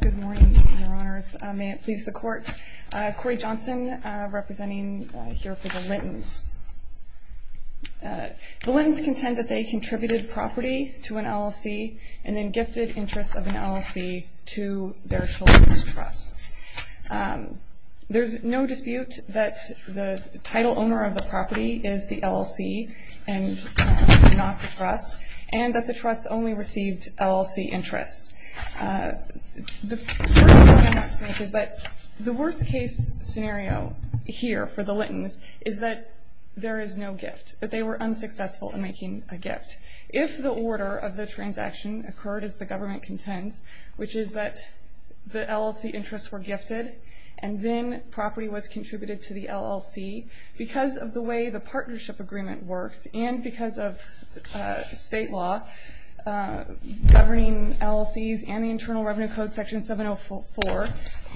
Good morning, your honors. May it please the court. Cori Johnson representing here for the Lintons. The Lintons contend that they contributed property to an LLC and then gifted interests of an LLC to their children's trusts. There's no dispute that the title owner of the property is the LLC and not the trust, and that the trust only received LLC interests. The worst case scenario here for the Lintons is that there is no gift, that they were unsuccessful in making a gift. If the order of the transaction occurred as the government contends, which is that the LLC interests were gifted, and then property was contributed to the LLC, because of the way the partnership agreement works, and because of state law governing LLCs and the Internal Revenue Code, Section 704,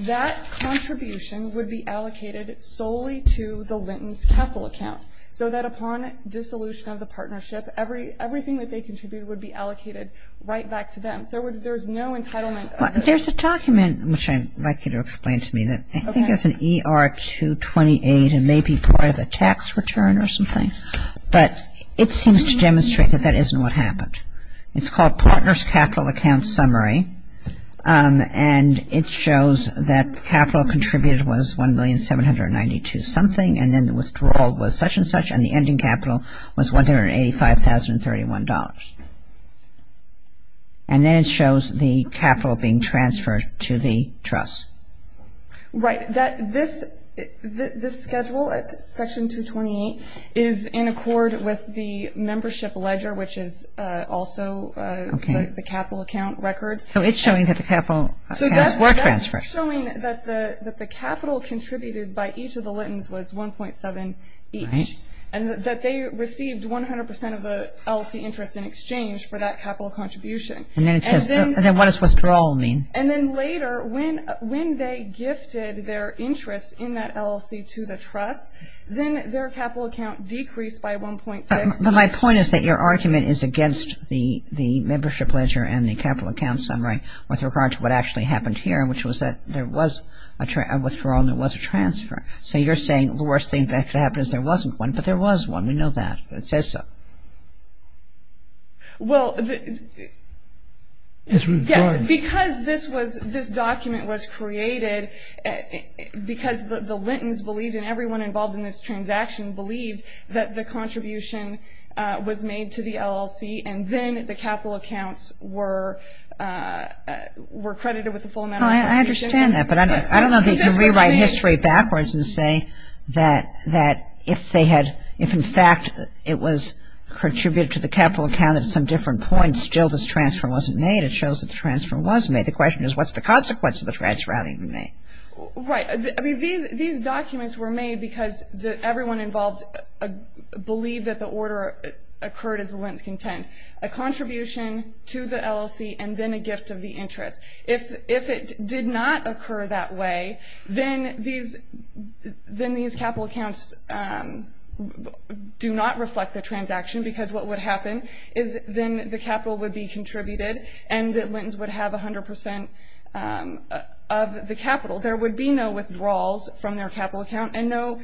that contribution would be allocated solely to the Lintons' capital account, so that upon dissolution of the partnership, everything that they contributed would be allocated right back to them. There's no entitlement of the... There's a document, which I'd like you to explain to me, that I think is an ER-228, and it may be part of a tax return or something, but it seems to demonstrate that that isn't what happened. It's called Partner's Capital Account Summary, and it shows that capital contributed was $1,792,000 something, and then the withdrawal was such and such, and the ending capital was $185,031. And then it shows the capital being transferred to the trust. Right. This schedule at Section 228 is in accord with the membership ledger, which is also the capital account records. So it's showing that the capital accounts were transferred. So that's showing that the capital contributed by each of the Lintons was $1.7 each, and that they received 100% of the LLC interest in exchange for that capital contribution. And then it says... And then what does withdrawal mean? And then later, when they gifted their interest in that LLC to the trust, then their capital account decreased by 1.6. But my point is that your argument is against the membership ledger and the capital account summary with regard to what actually happened here, which was that there was a withdrawal and there was a transfer. So you're saying the worst thing that could happen is there wasn't one, but there was one. We know that. It says so. Well... Yes, because this document was created because the Lintons believed, and everyone involved in this transaction believed, that the contribution was made to the LLC, and then the capital accounts were credited with the full amount of... I understand that, but I don't know that you can rewrite history backwards and say that if, in fact, it was contributed to the capital account at some different point, still this transfer wasn't made. It shows that the transfer was made. The question is, what's the consequence of the transfer having been made? Right. I mean, these documents were made because everyone involved believed that the order occurred as the Lintons contend, a contribution to the LLC and then a gift of the interest. If it did not occur that way, then these capital accounts do not reflect the transaction, because what would happen is then the capital would be contributed and the Lintons would have 100% of the capital. There would be no withdrawals from their capital account and no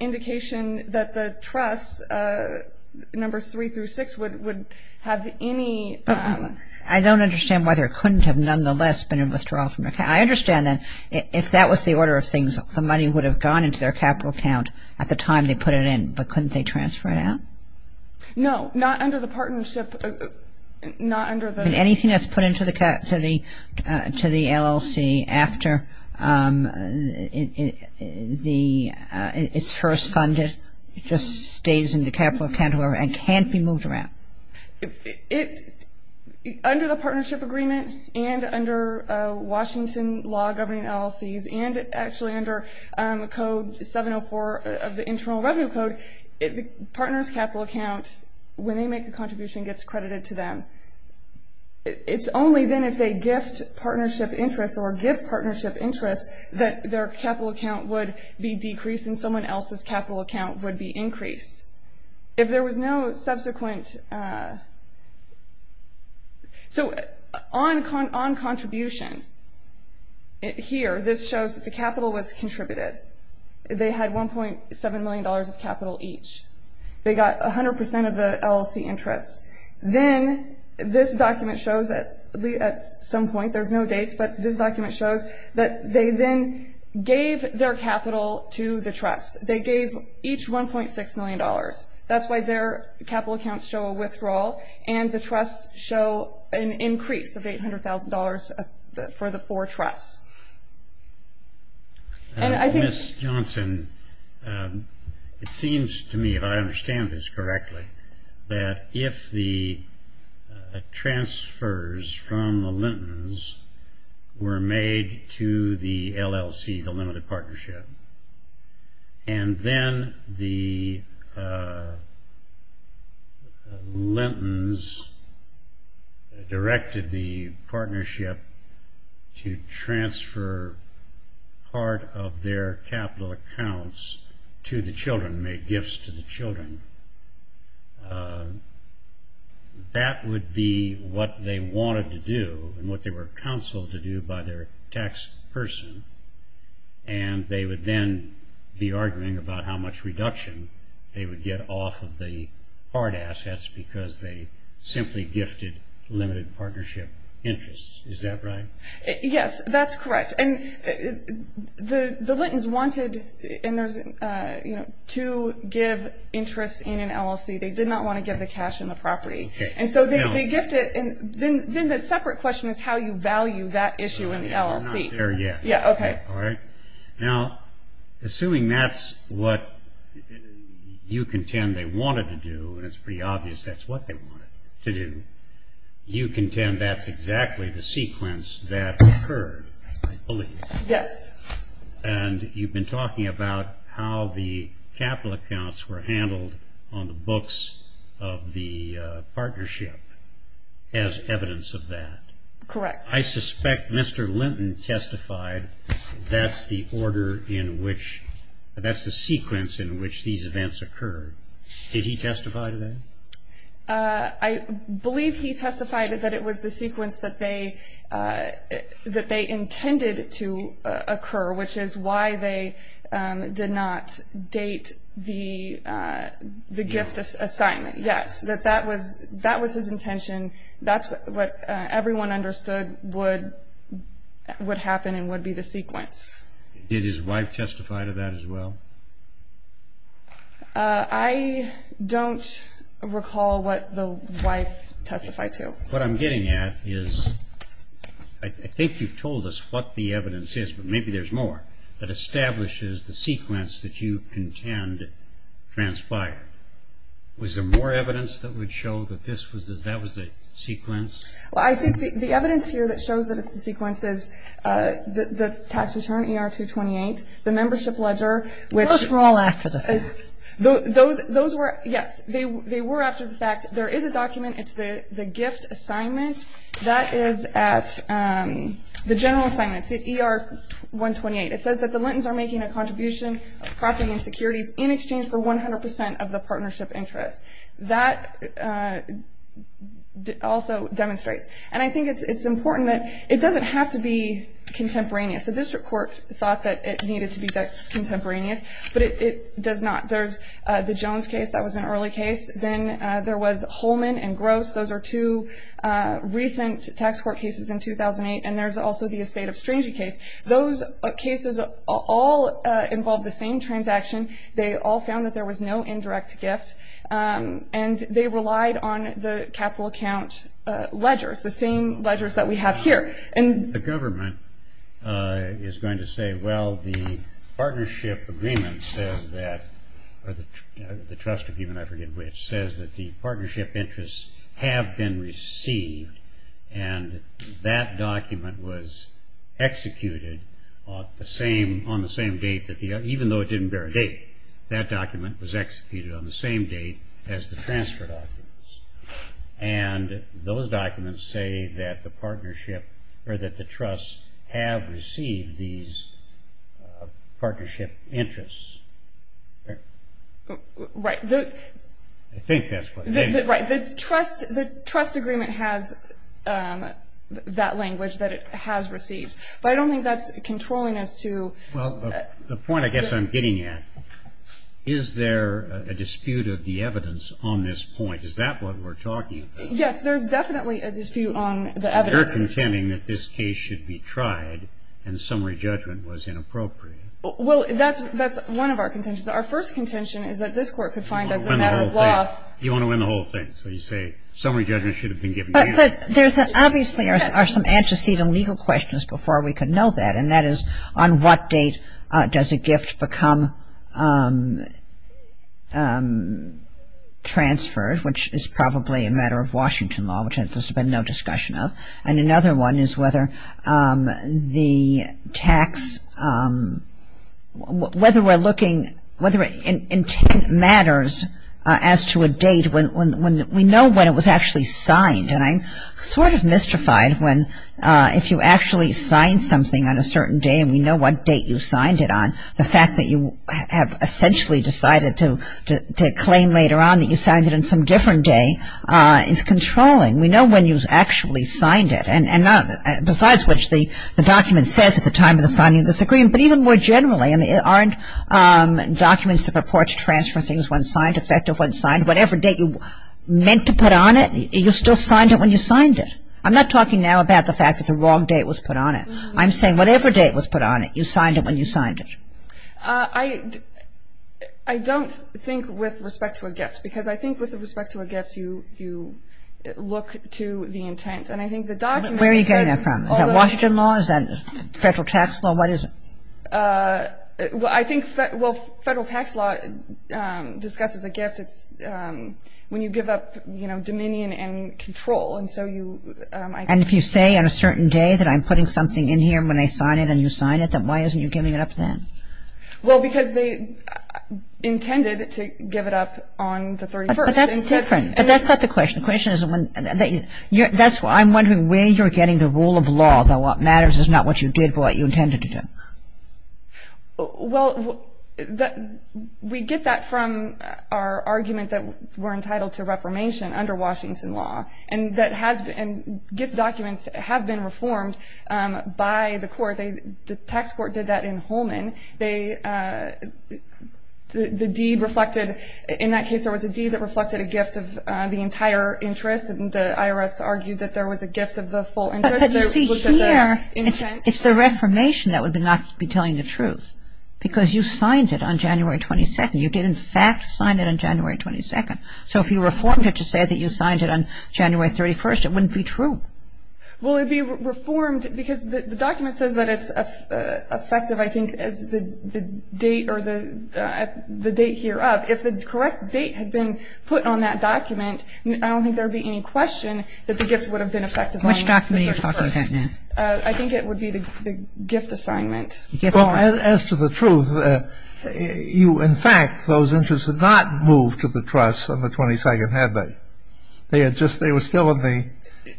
indication that the trusts, numbers three through six, would have any... I don't understand whether it couldn't have nonetheless been a withdrawal from their account. I understand that if that was the order of things, the money would have gone into their capital account at the time they put it in, but couldn't they transfer it out? No, not under the partnership, not under the... Anything that's put into the LLC after it's first funded just stays in the capital account and can't be moved around. Under the partnership agreement and under Washington law governing LLCs and actually under code 704 of the Internal Revenue Code, the partner's capital account, when they make a contribution, gets credited to them. It's only then if they gift partnership interest or give partnership interest that their capital account would be decreased and someone else's capital account would be increased. If there was no subsequent... So on contribution here, this shows that the capital was contributed. They had $1.7 million of capital each. They got 100% of the LLC interest. Then this document shows at some point, there's no dates, but this document shows that they then gave their capital to the trusts. They gave each $1.6 million. That's why their capital accounts show a withdrawal and the trusts show an increase of $800,000 for the four trusts. Ms. Johnson, it seems to me, if I understand this correctly, that if the transfers from the Lintons were made to the LLC, the limited partnership, and then the Lintons directed the partnership to transfer part of their capital accounts to the children, make gifts to the children, that would be what they wanted to do and what they were counseled to do by their tax person. They would then be arguing about how much reduction they would get off of the hard assets because they simply gifted limited partnership interests. Is that right? Yes, that's correct. The Lintons wanted to give interest in an LLC. They did not want to give the cash in the property. Okay. Now, assuming that's what you contend they wanted to do, and it's pretty obvious that's what they wanted to do, you contend that's exactly the sequence that occurred, I believe. Yes. And you've been talking about how the capital accounts were handled on the books of the partnership as evidence of that. Correct. I suspect Mr. Linton testified that's the sequence in which these events occurred. Did he testify to that? I believe he testified that it was the sequence that they intended to occur, which is why they did not date the gift assignment. Yes, that was his intention. That's what everyone understood would happen and would be the sequence. Did his wife testify to that as well? I don't recall what the wife testified to. What I'm getting at is I think you've told us what the evidence is, but maybe there's more, that establishes the sequence that you contend transpired. Was there more evidence that would show that that was the sequence? I think the evidence here that shows that it's the sequence is the tax return, ER-228, the membership ledger. Those were all after the fact. Yes, they were after the fact. There is a document, it's the gift assignment. That is at the general assignment, ER-128. It's in exchange for 100% of the partnership interest. That also demonstrates. And I think it's important that it doesn't have to be contemporaneous. The district court thought that it needed to be contemporaneous, but it does not. There's the Jones case. That was an early case. Then there was Holman and Gross. Those are two recent tax court cases in 2008. And there's also the Estate of Strangey case. Those cases all involve the same transaction. They all found that there was no indirect gift, and they relied on the capital account ledgers, the same ledgers that we have here. The government is going to say, well, the partnership agreement says that, or the trust agreement, I forget which, says that the partnership interests have been received, and that document was executed on the same date, even though it didn't bear a date. That document was executed on the same date as the transfer documents. And those documents say that the partnership, or that the trust have received these partnership interests. Right. I think that's what they mean. Right. The trust agreement has that language, that it has received. But I don't think that's controlling us to. Well, the point I guess I'm getting at, is there a dispute of the evidence on this point? Is that what we're talking about? Yes, there's definitely a dispute on the evidence. You're contending that this case should be tried, and summary judgment was inappropriate. Well, that's one of our contentions. Our first contention is that this court could find as a matter of law. You want to win the whole thing, so you say summary judgment should have been given. But there's obviously are some antecedent legal questions before we could know that, and that is on what date does a gift become transferred, which is probably a matter of Washington law, which there's been no discussion of. And another one is whether the tax, whether we're looking, whether intent matters as to a date when we know when it was actually signed. And I'm sort of mystified when if you actually sign something on a certain day and we know what date you signed it on, the fact that you have essentially decided to claim later on that you signed it on some different day is controlling. We know when you actually signed it, and besides which the document says at the time of the signing of this agreement, but even more generally, and there aren't documents that purport to transfer things when signed, effective when signed, whatever date you meant to put on it, you still signed it when you signed it. I'm not talking now about the fact that the wrong date was put on it. I'm saying whatever date was put on it, you signed it when you signed it. I don't think with respect to a gift, because I think with respect to a gift, you look to the intent. And I think the document says... Where are you getting that from? Is that Washington law? Is that federal tax law? What is it? Well, I think federal tax law discusses a gift. It's when you give up, you know, dominion and control. And so you... And if you say on a certain day that I'm putting something in here when I sign it and you sign it, then why isn't you giving it up then? Well, because they intended to give it up on the 31st. But that's different. But that's not the question. That's why I'm wondering where you're getting the rule of law, that what matters is not what you did but what you intended to do. Well, we get that from our argument that we're entitled to reformation under Washington law. And gift documents have been reformed by the court. The tax court did that in Holman. In that case, there was a deed that reflected a gift of the entire interest, and the IRS argued that there was a gift of the full interest. But you see here, it's the reformation that would not be telling the truth because you signed it on January 22nd. You did, in fact, sign it on January 22nd. So if you reformed it to say that you signed it on January 31st, it wouldn't be true. Well, it would be reformed because the document says that it's effective, I think, as the date or the date hereof. If the correct date had been put on that document, I don't think there would be any question that the gift would have been effective on the 31st. Which document are you talking about now? I think it would be the gift assignment. As to the truth, you, in fact, those interests had not moved to the trust on the 22nd, had they? They had just, they were still in the.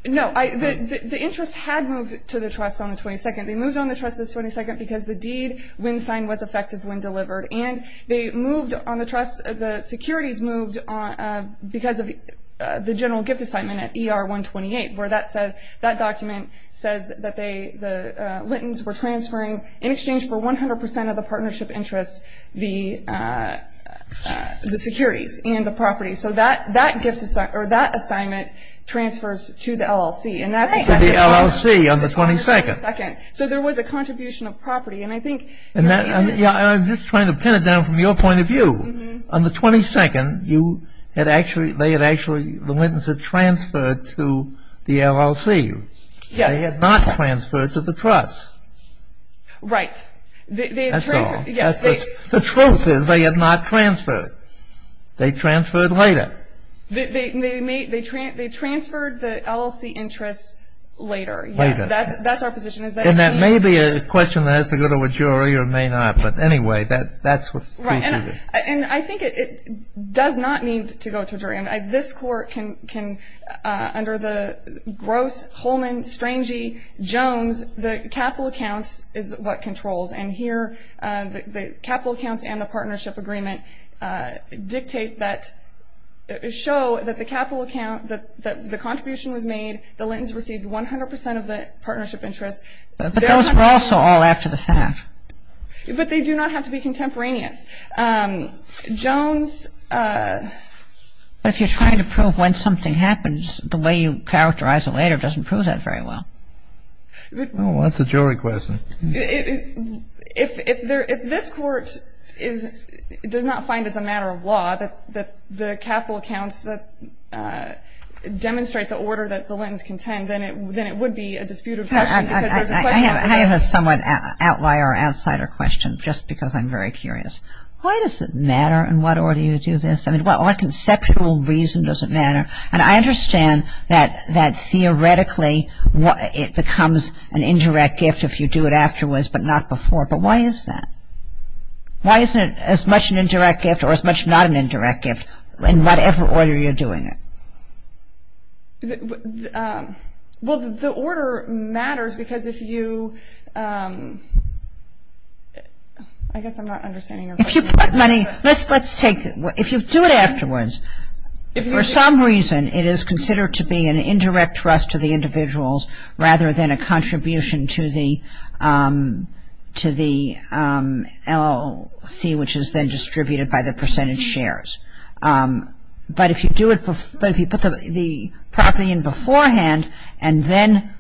No. The interest had moved to the trust on the 22nd. They moved on the trust on the 22nd because the deed when signed was effective when delivered. And they moved on the trust, the securities moved because of the general gift assignment at ER 128, where that document says that the Lintons were transferring, in exchange for 100% of the partnership interest, the securities and the property. So that assignment transfers to the LLC. And that's. To the LLC on the 22nd. On the 22nd. So there was a contribution of property. And I think. I'm just trying to pin it down from your point of view. On the 22nd, you had actually, they had actually, the Lintons had transferred to the LLC. Yes. They had not transferred to the trust. Right. That's all. Yes. The truth is they had not transferred. They transferred later. They transferred the LLC interest later. Later. Yes, that's our position. And that may be a question that has to go to a jury or may not. But anyway, that's what. Right. And I think it does not need to go to a jury. And this court can, under the gross Holman-Strangey-Jones, the capital accounts is what controls. And here the capital accounts and the partnership agreement dictate that, show that the capital account, that the contribution was made, the Lintons received 100% of the partnership interest. But those were also all after the fact. But they do not have to be contemporaneous. Jones. But if you're trying to prove when something happens, the way you characterize it later doesn't prove that very well. Well, that's a jury question. If this court does not find it's a matter of law that the capital accounts demonstrate the order that the Lintons contend, then it would be a disputed question. I have a somewhat outlier, outsider question, just because I'm very curious. Why does it matter in what order you do this? I mean, what conceptual reason does it matter? And I understand that theoretically it becomes an indirect gift if you do it afterwards, but not before. But why is that? Why isn't it as much an indirect gift or as much not an indirect gift in whatever order you're doing it? Well, the order matters because if you, I guess I'm not understanding your question. If you put money, let's take, if you do it afterwards, for some reason it is considered to be an indirect trust to the individuals rather than a contribution to the LLC, which is then distributed by the percentage shares. But if you put the property in beforehand and then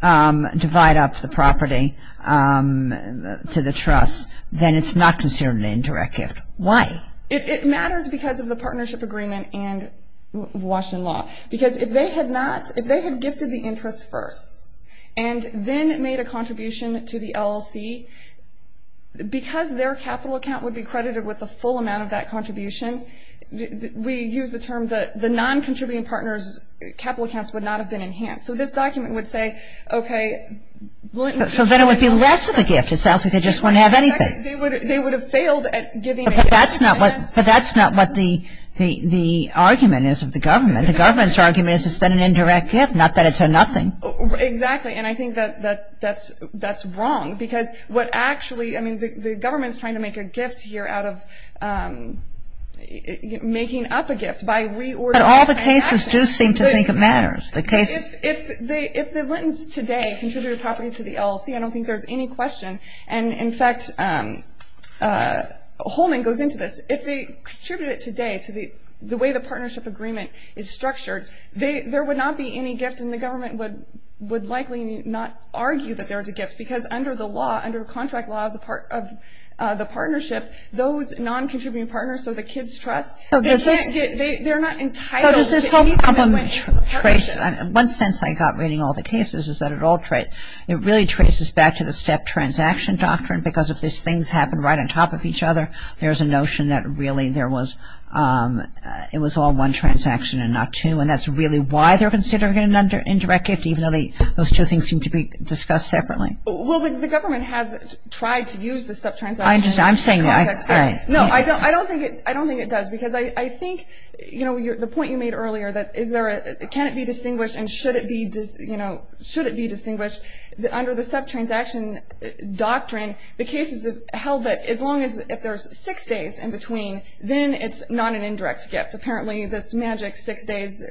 divide up the property to the trust, then it's not considered an indirect gift. Why? It matters because of the partnership agreement and Washington law. Because if they had not, if they had gifted the interest first and then made a contribution to the LLC, because their capital account would be credited with the full amount of that contribution, we use the term that the non-contributing partners' capital accounts would not have been enhanced. So this document would say, okay. So then it would be less of a gift. It sounds like they just wouldn't have anything. They would have failed at giving a gift. But that's not what the argument is of the government. The government's argument is it's an indirect gift, not that it's a nothing. Exactly. And I think that's wrong because what actually, I mean, the government is trying to make a gift here out of making up a gift by reordering. But all the cases do seem to think it matters. If the Lentons today contributed property to the LLC, I don't think there's any question. And, in fact, Holman goes into this. If they contributed it today to the way the partnership agreement is structured, there would not be any gift, and the government would likely not argue that there is a gift because under the law, under contract law of the partnership, those non-contributing partners, so the kids' trust, they're not entitled to any commitment. So does this whole problem trace, in one sense I got reading all the cases, is that it really traces back to the step transaction doctrine because if these things happen right on top of each other, there's a notion that really it was all one transaction and not two, and that's really why they're considering an indirect gift even though those two things seem to be discussed separately. Well, the government has tried to use the step transaction. I'm saying that. No, I don't think it does because I think, you know, the point you made earlier, that is there, can it be distinguished and should it be, you know, should it be distinguished? Under the step transaction doctrine, the cases have held that as long as there's six days in between, then it's not an indirect gift. Apparently this magic six days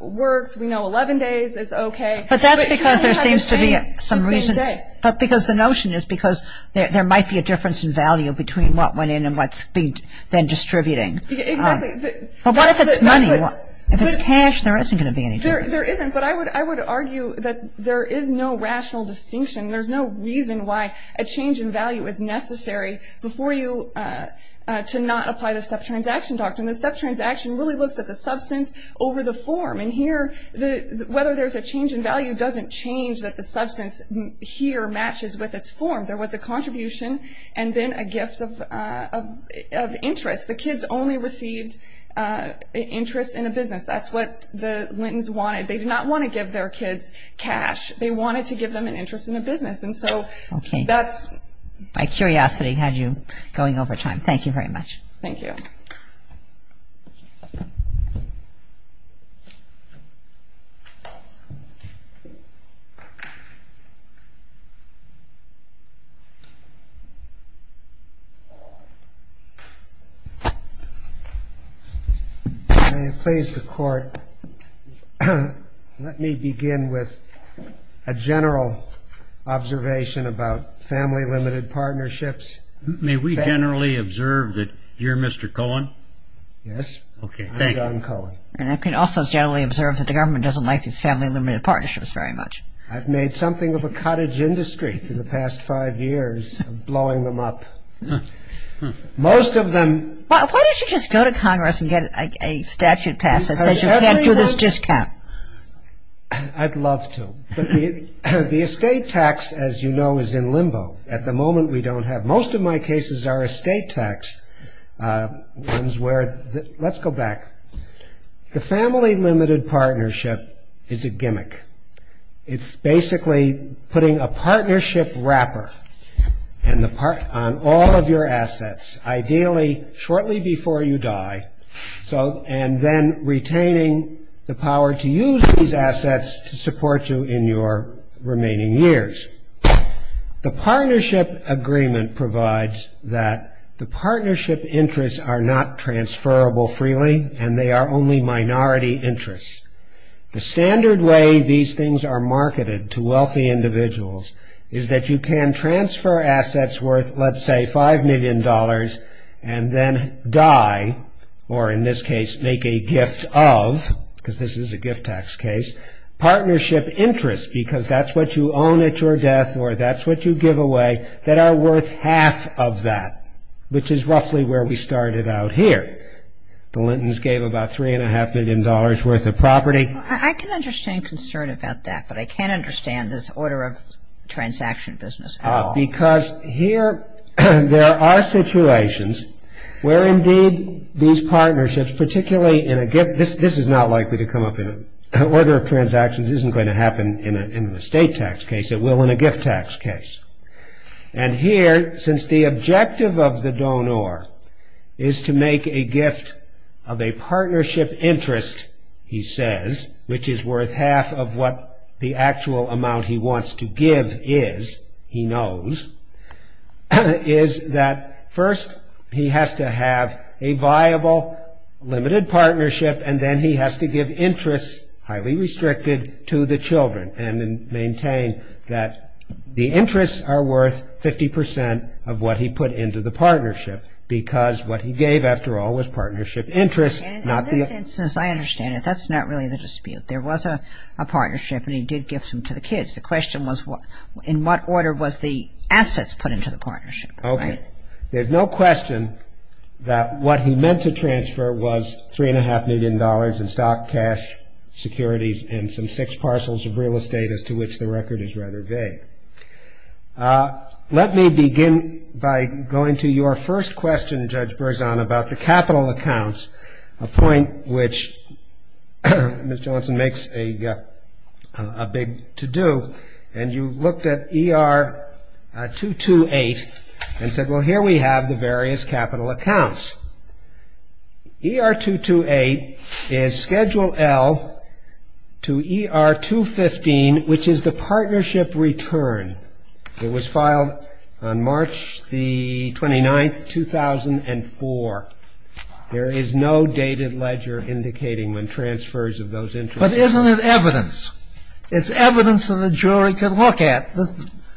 works. We know 11 days is okay. But that's because there seems to be some reason, but because the notion is because there might be a difference in value between what went in and what's being then distributing. Exactly. But what if it's money? If it's cash, there isn't going to be any difference. There isn't, but I would argue that there is no rational distinction. There's no reason why a change in value is necessary before you to not apply the step transaction doctrine. The step transaction really looks at the substance over the form, and here whether there's a change in value doesn't change that the substance here matches with its form. There was a contribution and then a gift of interest. The kids only received interest in a business. That's what the Lentons wanted. They did not want to give their kids cash. They wanted to give them an interest in a business, and so that's... Okay. My curiosity had you going over time. Thank you very much. Thank you. May it please the Court, let me begin with a general observation about family-limited partnerships. May we generally observe that you're Mr. Cohen? Yes. Okay, thank you. I'm Don Cohen. I can also generally observe that the government doesn't like these family-limited partnerships very much. I've made something of a cottage industry for the past five years of blowing them up. Most of them... Why don't you just go to Congress and get a statute passed that says you can't do this discount? I'd love to, but the estate tax, as you know, is in limbo. At the moment we don't have... Most of my cases are estate tax ones where... Let's go back. The family-limited partnership is a gimmick. It's basically putting a partnership wrapper on all of your assets, ideally shortly before you die, and then retaining the power to use these assets to support you in your remaining years. The partnership agreement provides that the partnership interests are not transferable freely, and they are only minority interests. The standard way these things are marketed to wealthy individuals is that you can transfer assets worth, let's say, $5 million and then die, or in this case make a gift of, because this is a gift tax case, partnership interests, because that's what you own at your death or that's what you give away, that are worth half of that, which is roughly where we started out here. The Lentons gave about $3.5 million worth of property. I can understand concern about that, but I can't understand this order of transaction business at all. Because here there are situations where indeed these partnerships, particularly in a gift... This is not likely to come up in an order of transactions. It isn't going to happen in an estate tax case. It will in a gift tax case. And here, since the objective of the donor is to make a gift of a partnership interest, he says, which is worth half of what the actual amount he wants to give is, he knows, is that first he has to have a viable, limited partnership, and then he has to give interests, highly restricted, to the children, and then maintain that the interests are worth 50% of what he put into the partnership, because what he gave, after all, was partnership interests, not the... In this instance, I understand it. That's not really the dispute. There was a partnership, and he did give some to the kids. The question was, in what order was the assets put into the partnership, right? Okay. There's no question that what he meant to transfer was $3.5 million in stock, cash, securities, and some six parcels of real estate, as to which the record is rather vague. Let me begin by going to your first question, Judge Berzon, about the capital accounts, a point which Ms. Johnson makes a big to-do, and you looked at ER 228 and said, well, here we have the various capital accounts. ER 228 is Schedule L to ER 215, which is the partnership return. It was filed on March the 29th, 2004. There is no dated ledger indicating when transfers of those interests... But isn't it evidence? It's evidence that a jury can look at.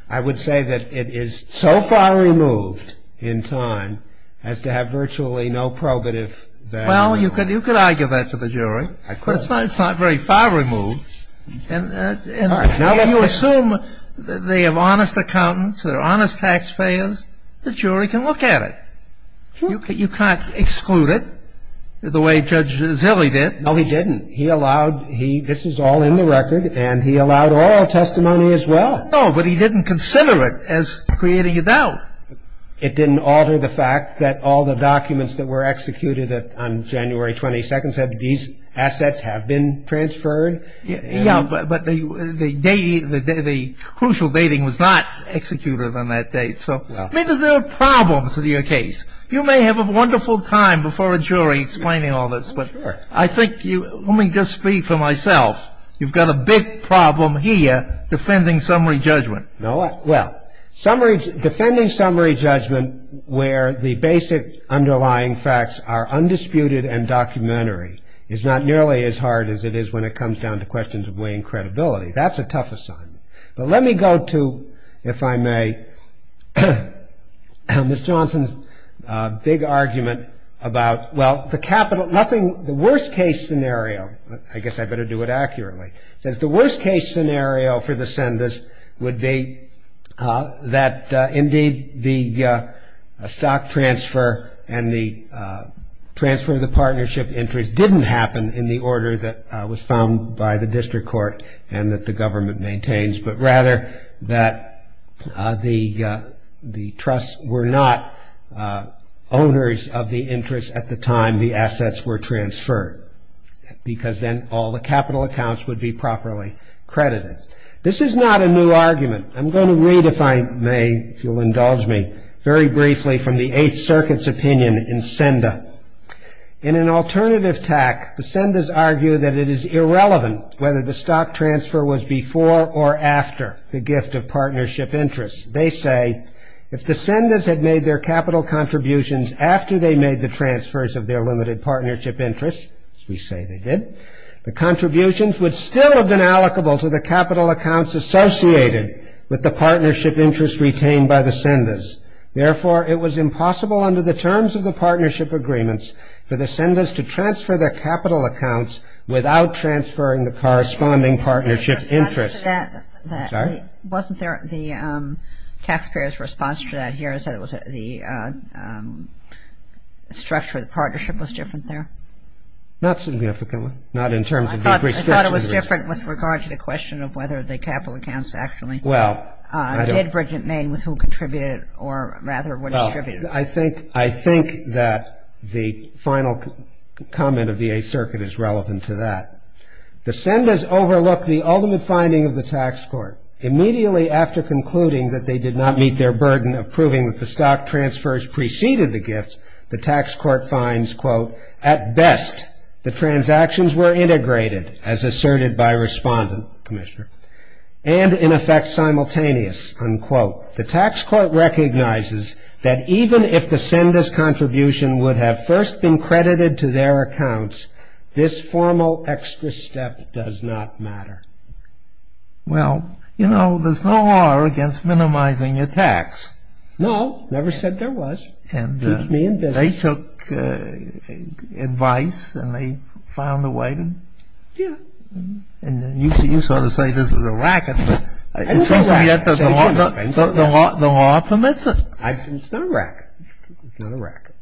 I would say that it is so far removed in time as to have virtually no probative value. Well, you could argue that to the jury. Of course. But it's not very far removed. All right. Now let's say... And you assume they have honest accountants, they're honest taxpayers, the jury can look at it. You can't exclude it the way Judge Zille did. No, he didn't. He allowed... This is all in the record, and he allowed oral testimony as well. No, but he didn't consider it as creating a doubt. It didn't alter the fact that all the documents that were executed on January 22nd said these assets have been transferred. Yeah, but the crucial dating was not executed on that date. So maybe there are problems with your case. You may have a wonderful time before a jury explaining all this, but I think you... Let me just speak for myself. You've got a big problem here defending summary judgment. Well, defending summary judgment where the basic underlying facts are undisputed and documentary is not nearly as hard as it is when it comes down to questions of weighing credibility. That's a tough assignment. But let me go to, if I may, Ms. Johnson's big argument about... The worst-case scenario, I guess I better do it accurately, says the worst-case scenario for the sentence would be that indeed the stock transfer and the transfer of the partnership interest didn't happen in the order that was found by the district court and that the government maintains, but rather that the trusts were not owners of the interest at the time the assets were transferred because then all the capital accounts would be properly credited. This is not a new argument. I'm going to read, if I may, if you'll indulge me, very briefly from the Eighth Circuit's opinion in Senda. In an alternative tact, the Sendas argue that it is irrelevant whether the stock transfer was before or after the gift of partnership interest. They say, if the Sendas had made their capital contributions after they made the transfers of their limited partnership interest, which we say they did, the contributions would still have been allocable to the capital accounts associated with the partnership interest retained by the Sendas. Therefore, it was impossible under the terms of the partnership agreements for the Sendas to transfer their capital accounts without transferring the corresponding partnership interest. Wasn't there the taxpayer's response to that here, that the structure of the partnership was different there? Not significantly. I thought it was different with regard to the question of whether the capital accounts actually did bridge at main with who contributed or rather what distributed. I think that the final comment of the Eighth Circuit is relevant to that. The Sendas overlook the ultimate finding of the tax court. Immediately after concluding that they did not meet their burden of proving that the stock transfers preceded the gifts, the tax court finds, quote, at best the transactions were integrated, as asserted by respondent, Commissioner, and in effect simultaneous, unquote. The tax court recognizes that even if the Sendas contribution would have first been credited to their accounts, this formal extra step does not matter. Well, you know, there's no law against minimizing your tax. No, never said there was. And they took advice and they found a way. Yeah. And you sort of say this is a racket. The law permits it. It's not a racket. It's not a racket.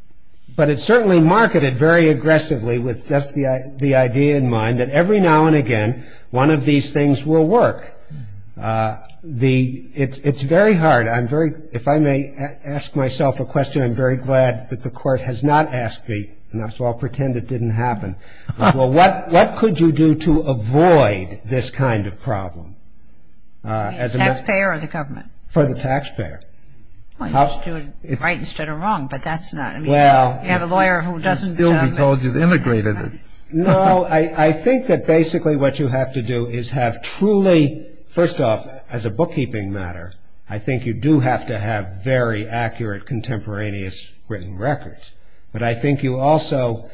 But it's certainly marketed very aggressively with just the idea in mind that every now and again, one of these things will work. It's very hard. If I may ask myself a question, I'm very glad that the Court has not asked me, and so I'll pretend it didn't happen. Well, what could you do to avoid this kind of problem? Taxpayer or the government? For the taxpayer. Well, you should do it right instead of wrong, but that's not. Well. You have a lawyer who doesn't. Still, we told you they integrated it. No, I think that basically what you have to do is have truly, first off, as a bookkeeping matter, I think you do have to have very accurate contemporaneous written records. But I think you also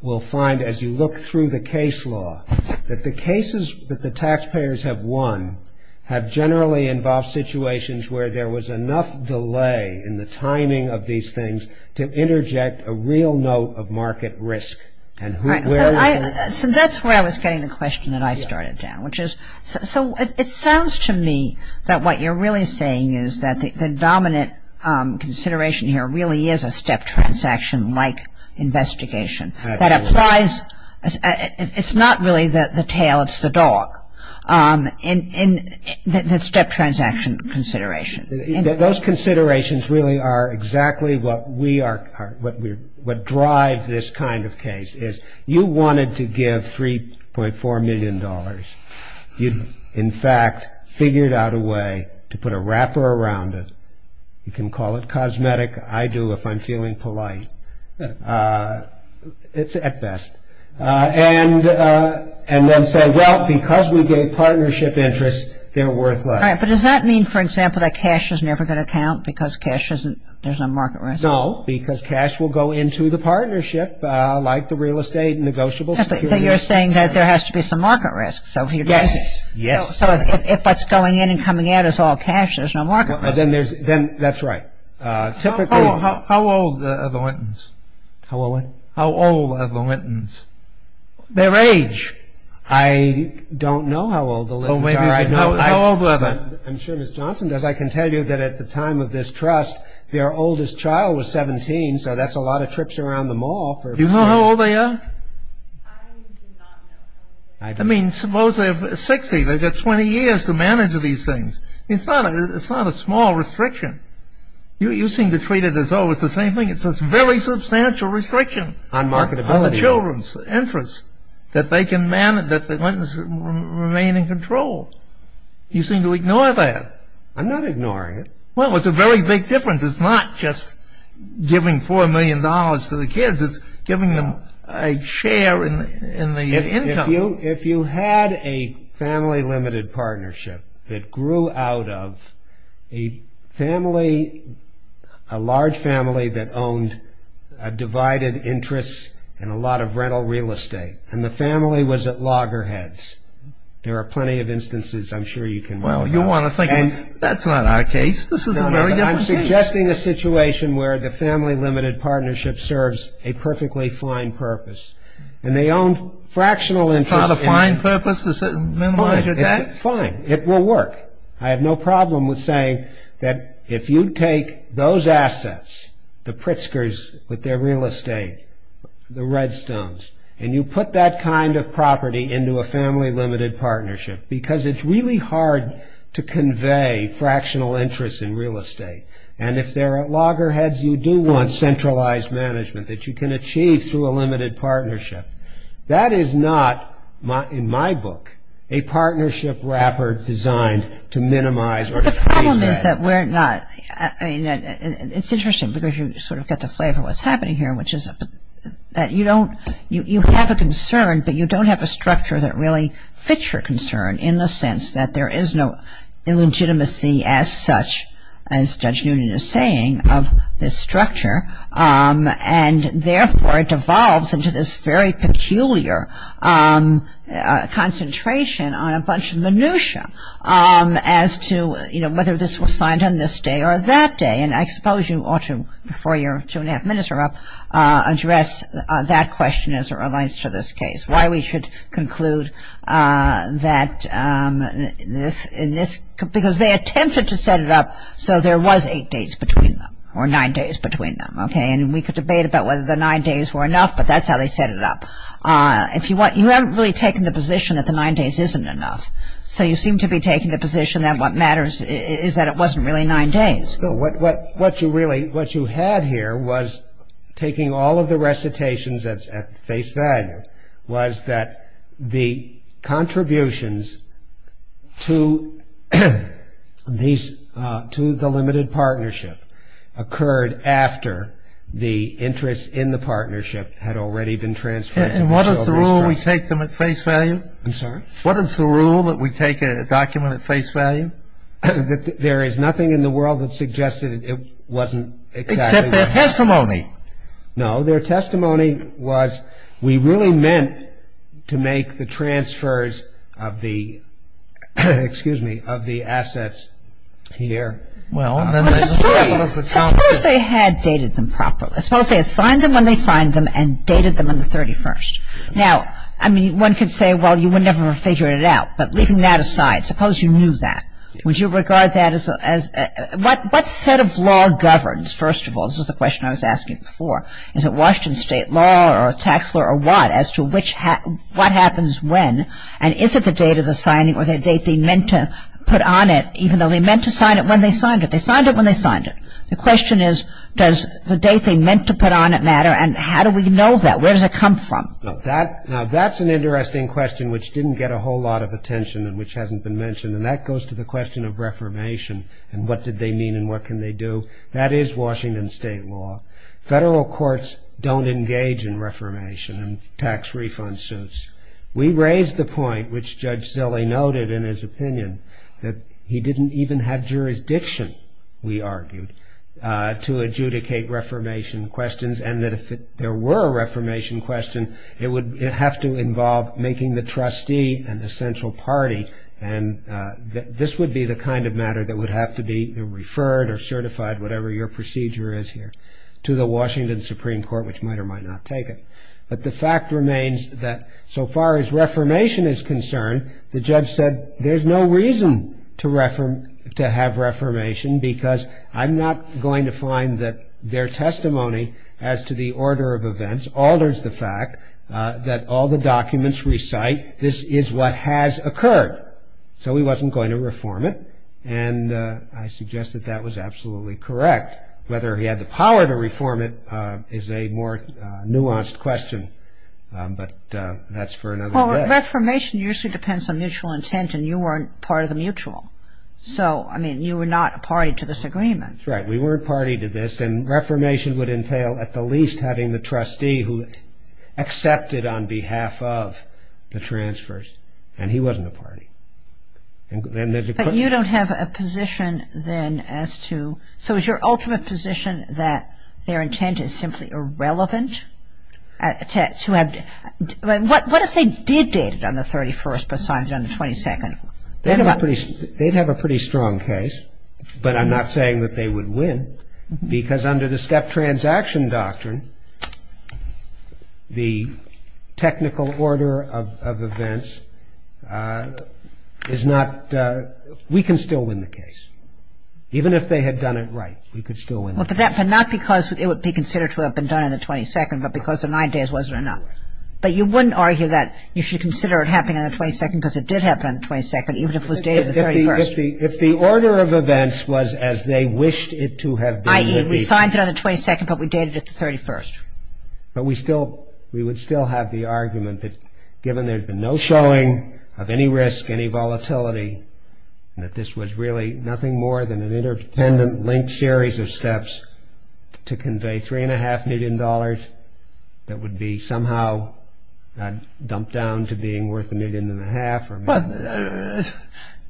will find as you look through the case law that the cases that the taxpayers have won have generally involved situations where there was enough delay in the timing of these things to interject a real note of market risk. So that's where I was getting the question that I started down, which is, So it sounds to me that what you're really saying is that the dominant consideration here really is a step transaction-like investigation. Absolutely. That applies, it's not really the tail, it's the dog, the step transaction consideration. Those considerations really are exactly what we are, what drives this kind of case, is you wanted to give $3.4 million. You, in fact, figured out a way to put a wrapper around it. You can call it cosmetic, I do if I'm feeling polite. It's at best. And then say, well, because we gave partnership interest, they're worth less. But does that mean, for example, that cash is never going to count because cash isn't, there's no market risk? No, because cash will go into the partnership like the real estate and negotiable securities. You're saying that there has to be some market risk. Yes. Yes. So if what's going in and coming out is all cash, there's no market risk. Then that's right. How old are the Lentons? How old what? How old are the Lentons? Their age. I don't know how old the Lentons are. How old were they? I'm sure Ms. Johnson does. I can tell you that at the time of this trust, their oldest child was 17, so that's a lot of trips around the mall. Do you know how old they are? I do not know. I mean, suppose they're 60. They've got 20 years to manage these things. It's not a small restriction. You seem to treat it as though it's the same thing. It's a very substantial restriction. On marketability. On the children's interests that they can manage, that the Lentons remain in control. You seem to ignore that. I'm not ignoring it. Well, it's a very big difference. It's not just giving $4 million to the kids. It's giving them a share in the income. If you had a family limited partnership that grew out of a family, a large family that owned a divided interest in a lot of rental real estate, and the family was at loggerheads. There are plenty of instances I'm sure you can remember. Well, you want to think that's not our case. This is a very different case. No, no, I'm suggesting a situation where the family limited partnership serves a perfectly fine purpose, and they own fractional interest in It's not a fine purpose to minimize your debt? Fine. It will work. I have no problem with saying that if you take those assets, the Pritzkers with their real estate, the Redstones, and you put that kind of property into a family limited partnership, because it's really hard to convey fractional interest in real estate, and if there are loggerheads you do want centralized management that you can achieve through a limited partnership, that is not, in my book, a partnership wrapper designed to minimize or to freeze debt. The problem is that we're not. It's interesting because you sort of get the flavor of what's happening here, which is that you don't, you have a concern, but you don't have a structure that really fits your concern in the sense that there is no illegitimacy as such, as Judge Noonan is saying, of this structure, and therefore it devolves into this very peculiar concentration on a bunch of minutia as to, you know, whether this was signed on this day or that day, and I suppose you ought to, before your two and a half minutes are up, address that question as it relates to this case, why we should conclude that this, in this, because they attempted to set it up so there was eight days between them or nine days between them, okay, and we could debate about whether the nine days were enough, but that's how they set it up. If you want, you haven't really taken the position that the nine days isn't enough, so you seem to be taking the position that what matters is that it wasn't really nine days. No, what you really, what you had here was, taking all of the recitations at face value, was that the contributions to these, to the limited partnership, occurred after the interest in the partnership had already been transferred. And what is the rule? We take them at face value? I'm sorry? What is the rule that we take a document at face value? That there is nothing in the world that suggests that it wasn't exactly right. Except their testimony. No, their testimony was we really meant to make the transfers of the, excuse me, of the assets here. Well, then they suppose they had dated them properly. Suppose they assigned them when they signed them and dated them on the 31st. Now, I mean, one could say, well, you would never have figured it out. But leaving that aside, suppose you knew that. Would you regard that as, what set of law governs, first of all, this is the question I was asking before, is it Washington state law or tax law or what, as to which, what happens when, and is it the date of the signing or the date they meant to put on it, even though they meant to sign it when they signed it? They signed it when they signed it. The question is, does the date they meant to put on it matter, and how do we know that? Where does it come from? Now, that's an interesting question which didn't get a whole lot of attention and which hasn't been mentioned, and that goes to the question of reformation and what did they mean and what can they do. That is Washington state law. Federal courts don't engage in reformation and tax refund suits. We raised the point, which Judge Zille noted in his opinion, that he didn't even have jurisdiction, we argued, to adjudicate reformation questions and that if there were a reformation question, it would have to involve making the trustee and the central party, and this would be the kind of matter that would have to be referred or certified, whatever your procedure is here, to the Washington Supreme Court, which might or might not take it. But the fact remains that so far as reformation is concerned, the judge said there's no reason to have reformation because I'm not going to find that their testimony as to the order of events alters the fact that all the documents recite this is what has occurred. So he wasn't going to reform it, and I suggest that that was absolutely correct. Whether he had the power to reform it is a more nuanced question, but that's for another day. Well, reformation usually depends on mutual intent and you weren't part of the mutual. So, I mean, you were not a party to this agreement. That's right. We weren't a party to this, and reformation would entail at the least having the trustee who accepted on behalf of the transfers, and he wasn't a party. But you don't have a position then as to, so is your ultimate position that their intent is simply irrelevant? What if they did date it on the 31st but signed it on the 22nd? They'd have a pretty strong case, but I'm not saying that they would win because under the step transaction doctrine, the technical order of events is not, we can still win the case. Even if they had done it right, we could still win the case. But not because it would be considered to have been done on the 22nd, but because the nine days wasn't enough. But you wouldn't argue that you should consider it happening on the 22nd because it did happen on the 22nd, even if it was dated on the 31st. If the order of events was as they wished it to have been. I.e., we signed it on the 22nd, but we dated it the 31st. But we would still have the argument that given there's been no showing of any risk, any volatility, that this was really nothing more than an interdependent linked series of steps to convey $3.5 million that would be somehow dumped down into being worth a million and a half or a million and a half. But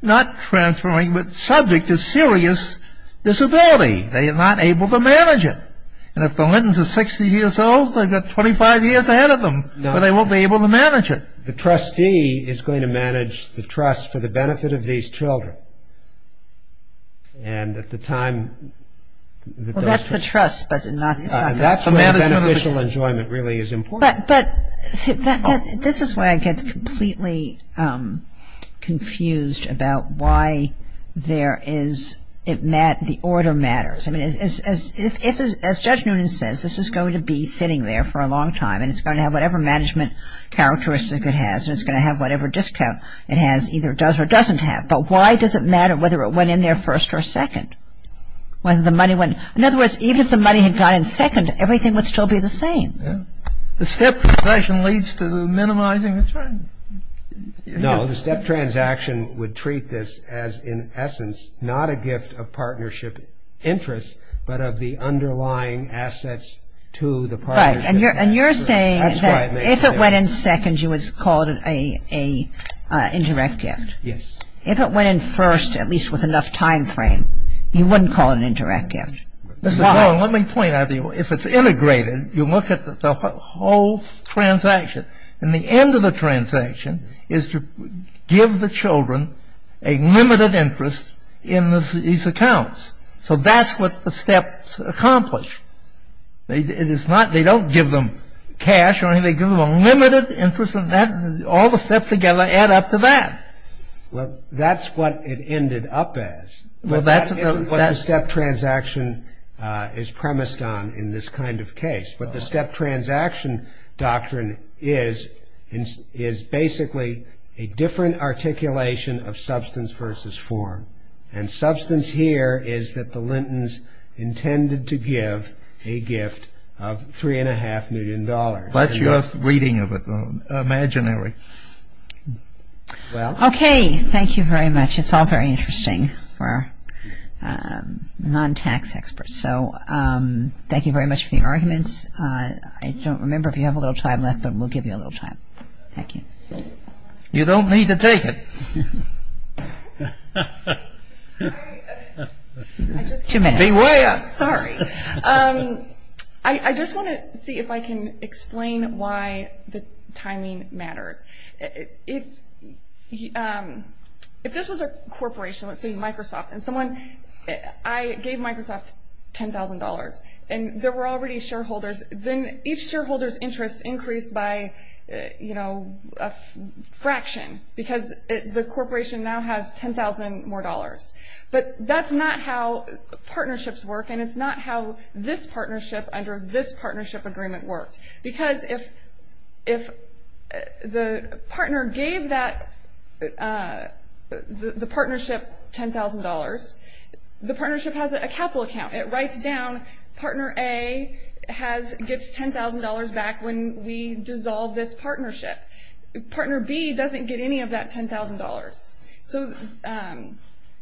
not transferring the subject to serious disability. They are not able to manage it. And if the Lentons are 60 years old, they've got 25 years ahead of them, but they won't be able to manage it. The trustee is going to manage the trust for the benefit of these children. And at the time that those trustees... Well, that's the trust, but not the management of the... That's where beneficial enjoyment really is important. But this is where I get completely confused about why the order matters. As Judge Noonan says, this is going to be sitting there for a long time, and it's going to have whatever management characteristic it has, and it's going to have whatever discount it has, either does or doesn't have. But why does it matter whether it went in there first or second? In other words, even if the money had gone in second, everything would still be the same. The step transaction leads to minimizing the term. No, the step transaction would treat this as, in essence, not a gift of partnership interest, but of the underlying assets to the partnership. And you're saying that if it went in second, you would call it an indirect gift. Yes. If it went in first, at least with enough time frame, you wouldn't call it an indirect gift. Let me point out to you. If it's integrated, you look at the whole transaction, and the end of the transaction is to give the children a limited interest in these accounts. So that's what the steps accomplish. They don't give them cash or anything. They give them a limited interest, and all the steps together add up to that. Well, that's what it ended up as. Well, that's what the step transaction is premised on in this kind of case. But the step transaction doctrine is basically a different articulation of substance versus form. And substance here is that the Lintons intended to give a gift of $3.5 million. That's your reading of it, though, imaginary. Okay. Thank you very much. It's all very interesting for non-tax experts. So thank you very much for your arguments. I don't remember if you have a little time left, but we'll give you a little time. Thank you. You don't need to take it. Two minutes. Beware. Sorry. I just want to see if I can explain why the timing matters. If this was a corporation, let's say Microsoft, and I gave Microsoft $10,000, and there were already shareholders, then each shareholder's interest increased by a fraction because the corporation now has $10,000 more. But that's not how partnerships work, and it's not how this partnership under this partnership agreement worked. Because if the partner gave the partnership $10,000, the partnership has a capital account. It writes down, partner A gets $10,000 back when we dissolve this partnership. Partner B doesn't get any of that $10,000.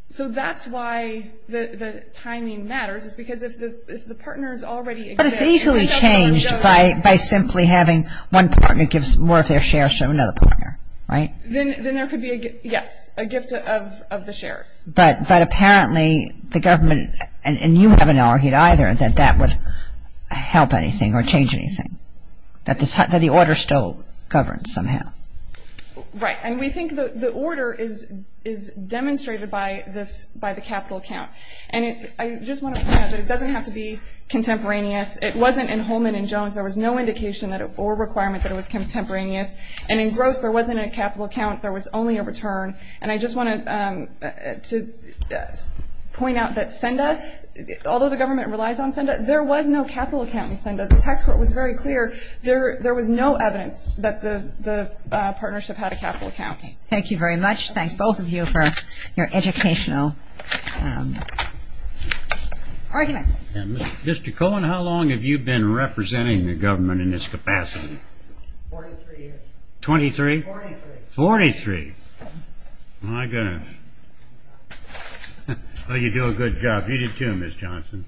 So that's why the timing matters, is because if the partner's already a gift. But it's easily changed by simply having one partner give more of their shares to another partner, right? Then there could be, yes, a gift of the shares. But apparently the government, and you haven't argued either, that that would help anything or change anything, that the order still governs somehow. Right, and we think the order is demonstrated by the capital account. And I just want to point out that it doesn't have to be contemporaneous. It wasn't in Holman and Jones. There was no indication or requirement that it was contemporaneous. And in Gross, there wasn't a capital account. There was only a return. And I just wanted to point out that Senda, although the government relies on Senda, there was no capital account in Senda. The tax court was very clear. There was no evidence that the partnership had a capital account. Thank you very much. Thank both of you for your educational arguments. Mr. Cohen, how long have you been representing the government in this capacity? Forty-three years. Twenty-three? Forty-three. Forty-three. My goodness. Well, you do a good job. You do too, Ms. Johnson.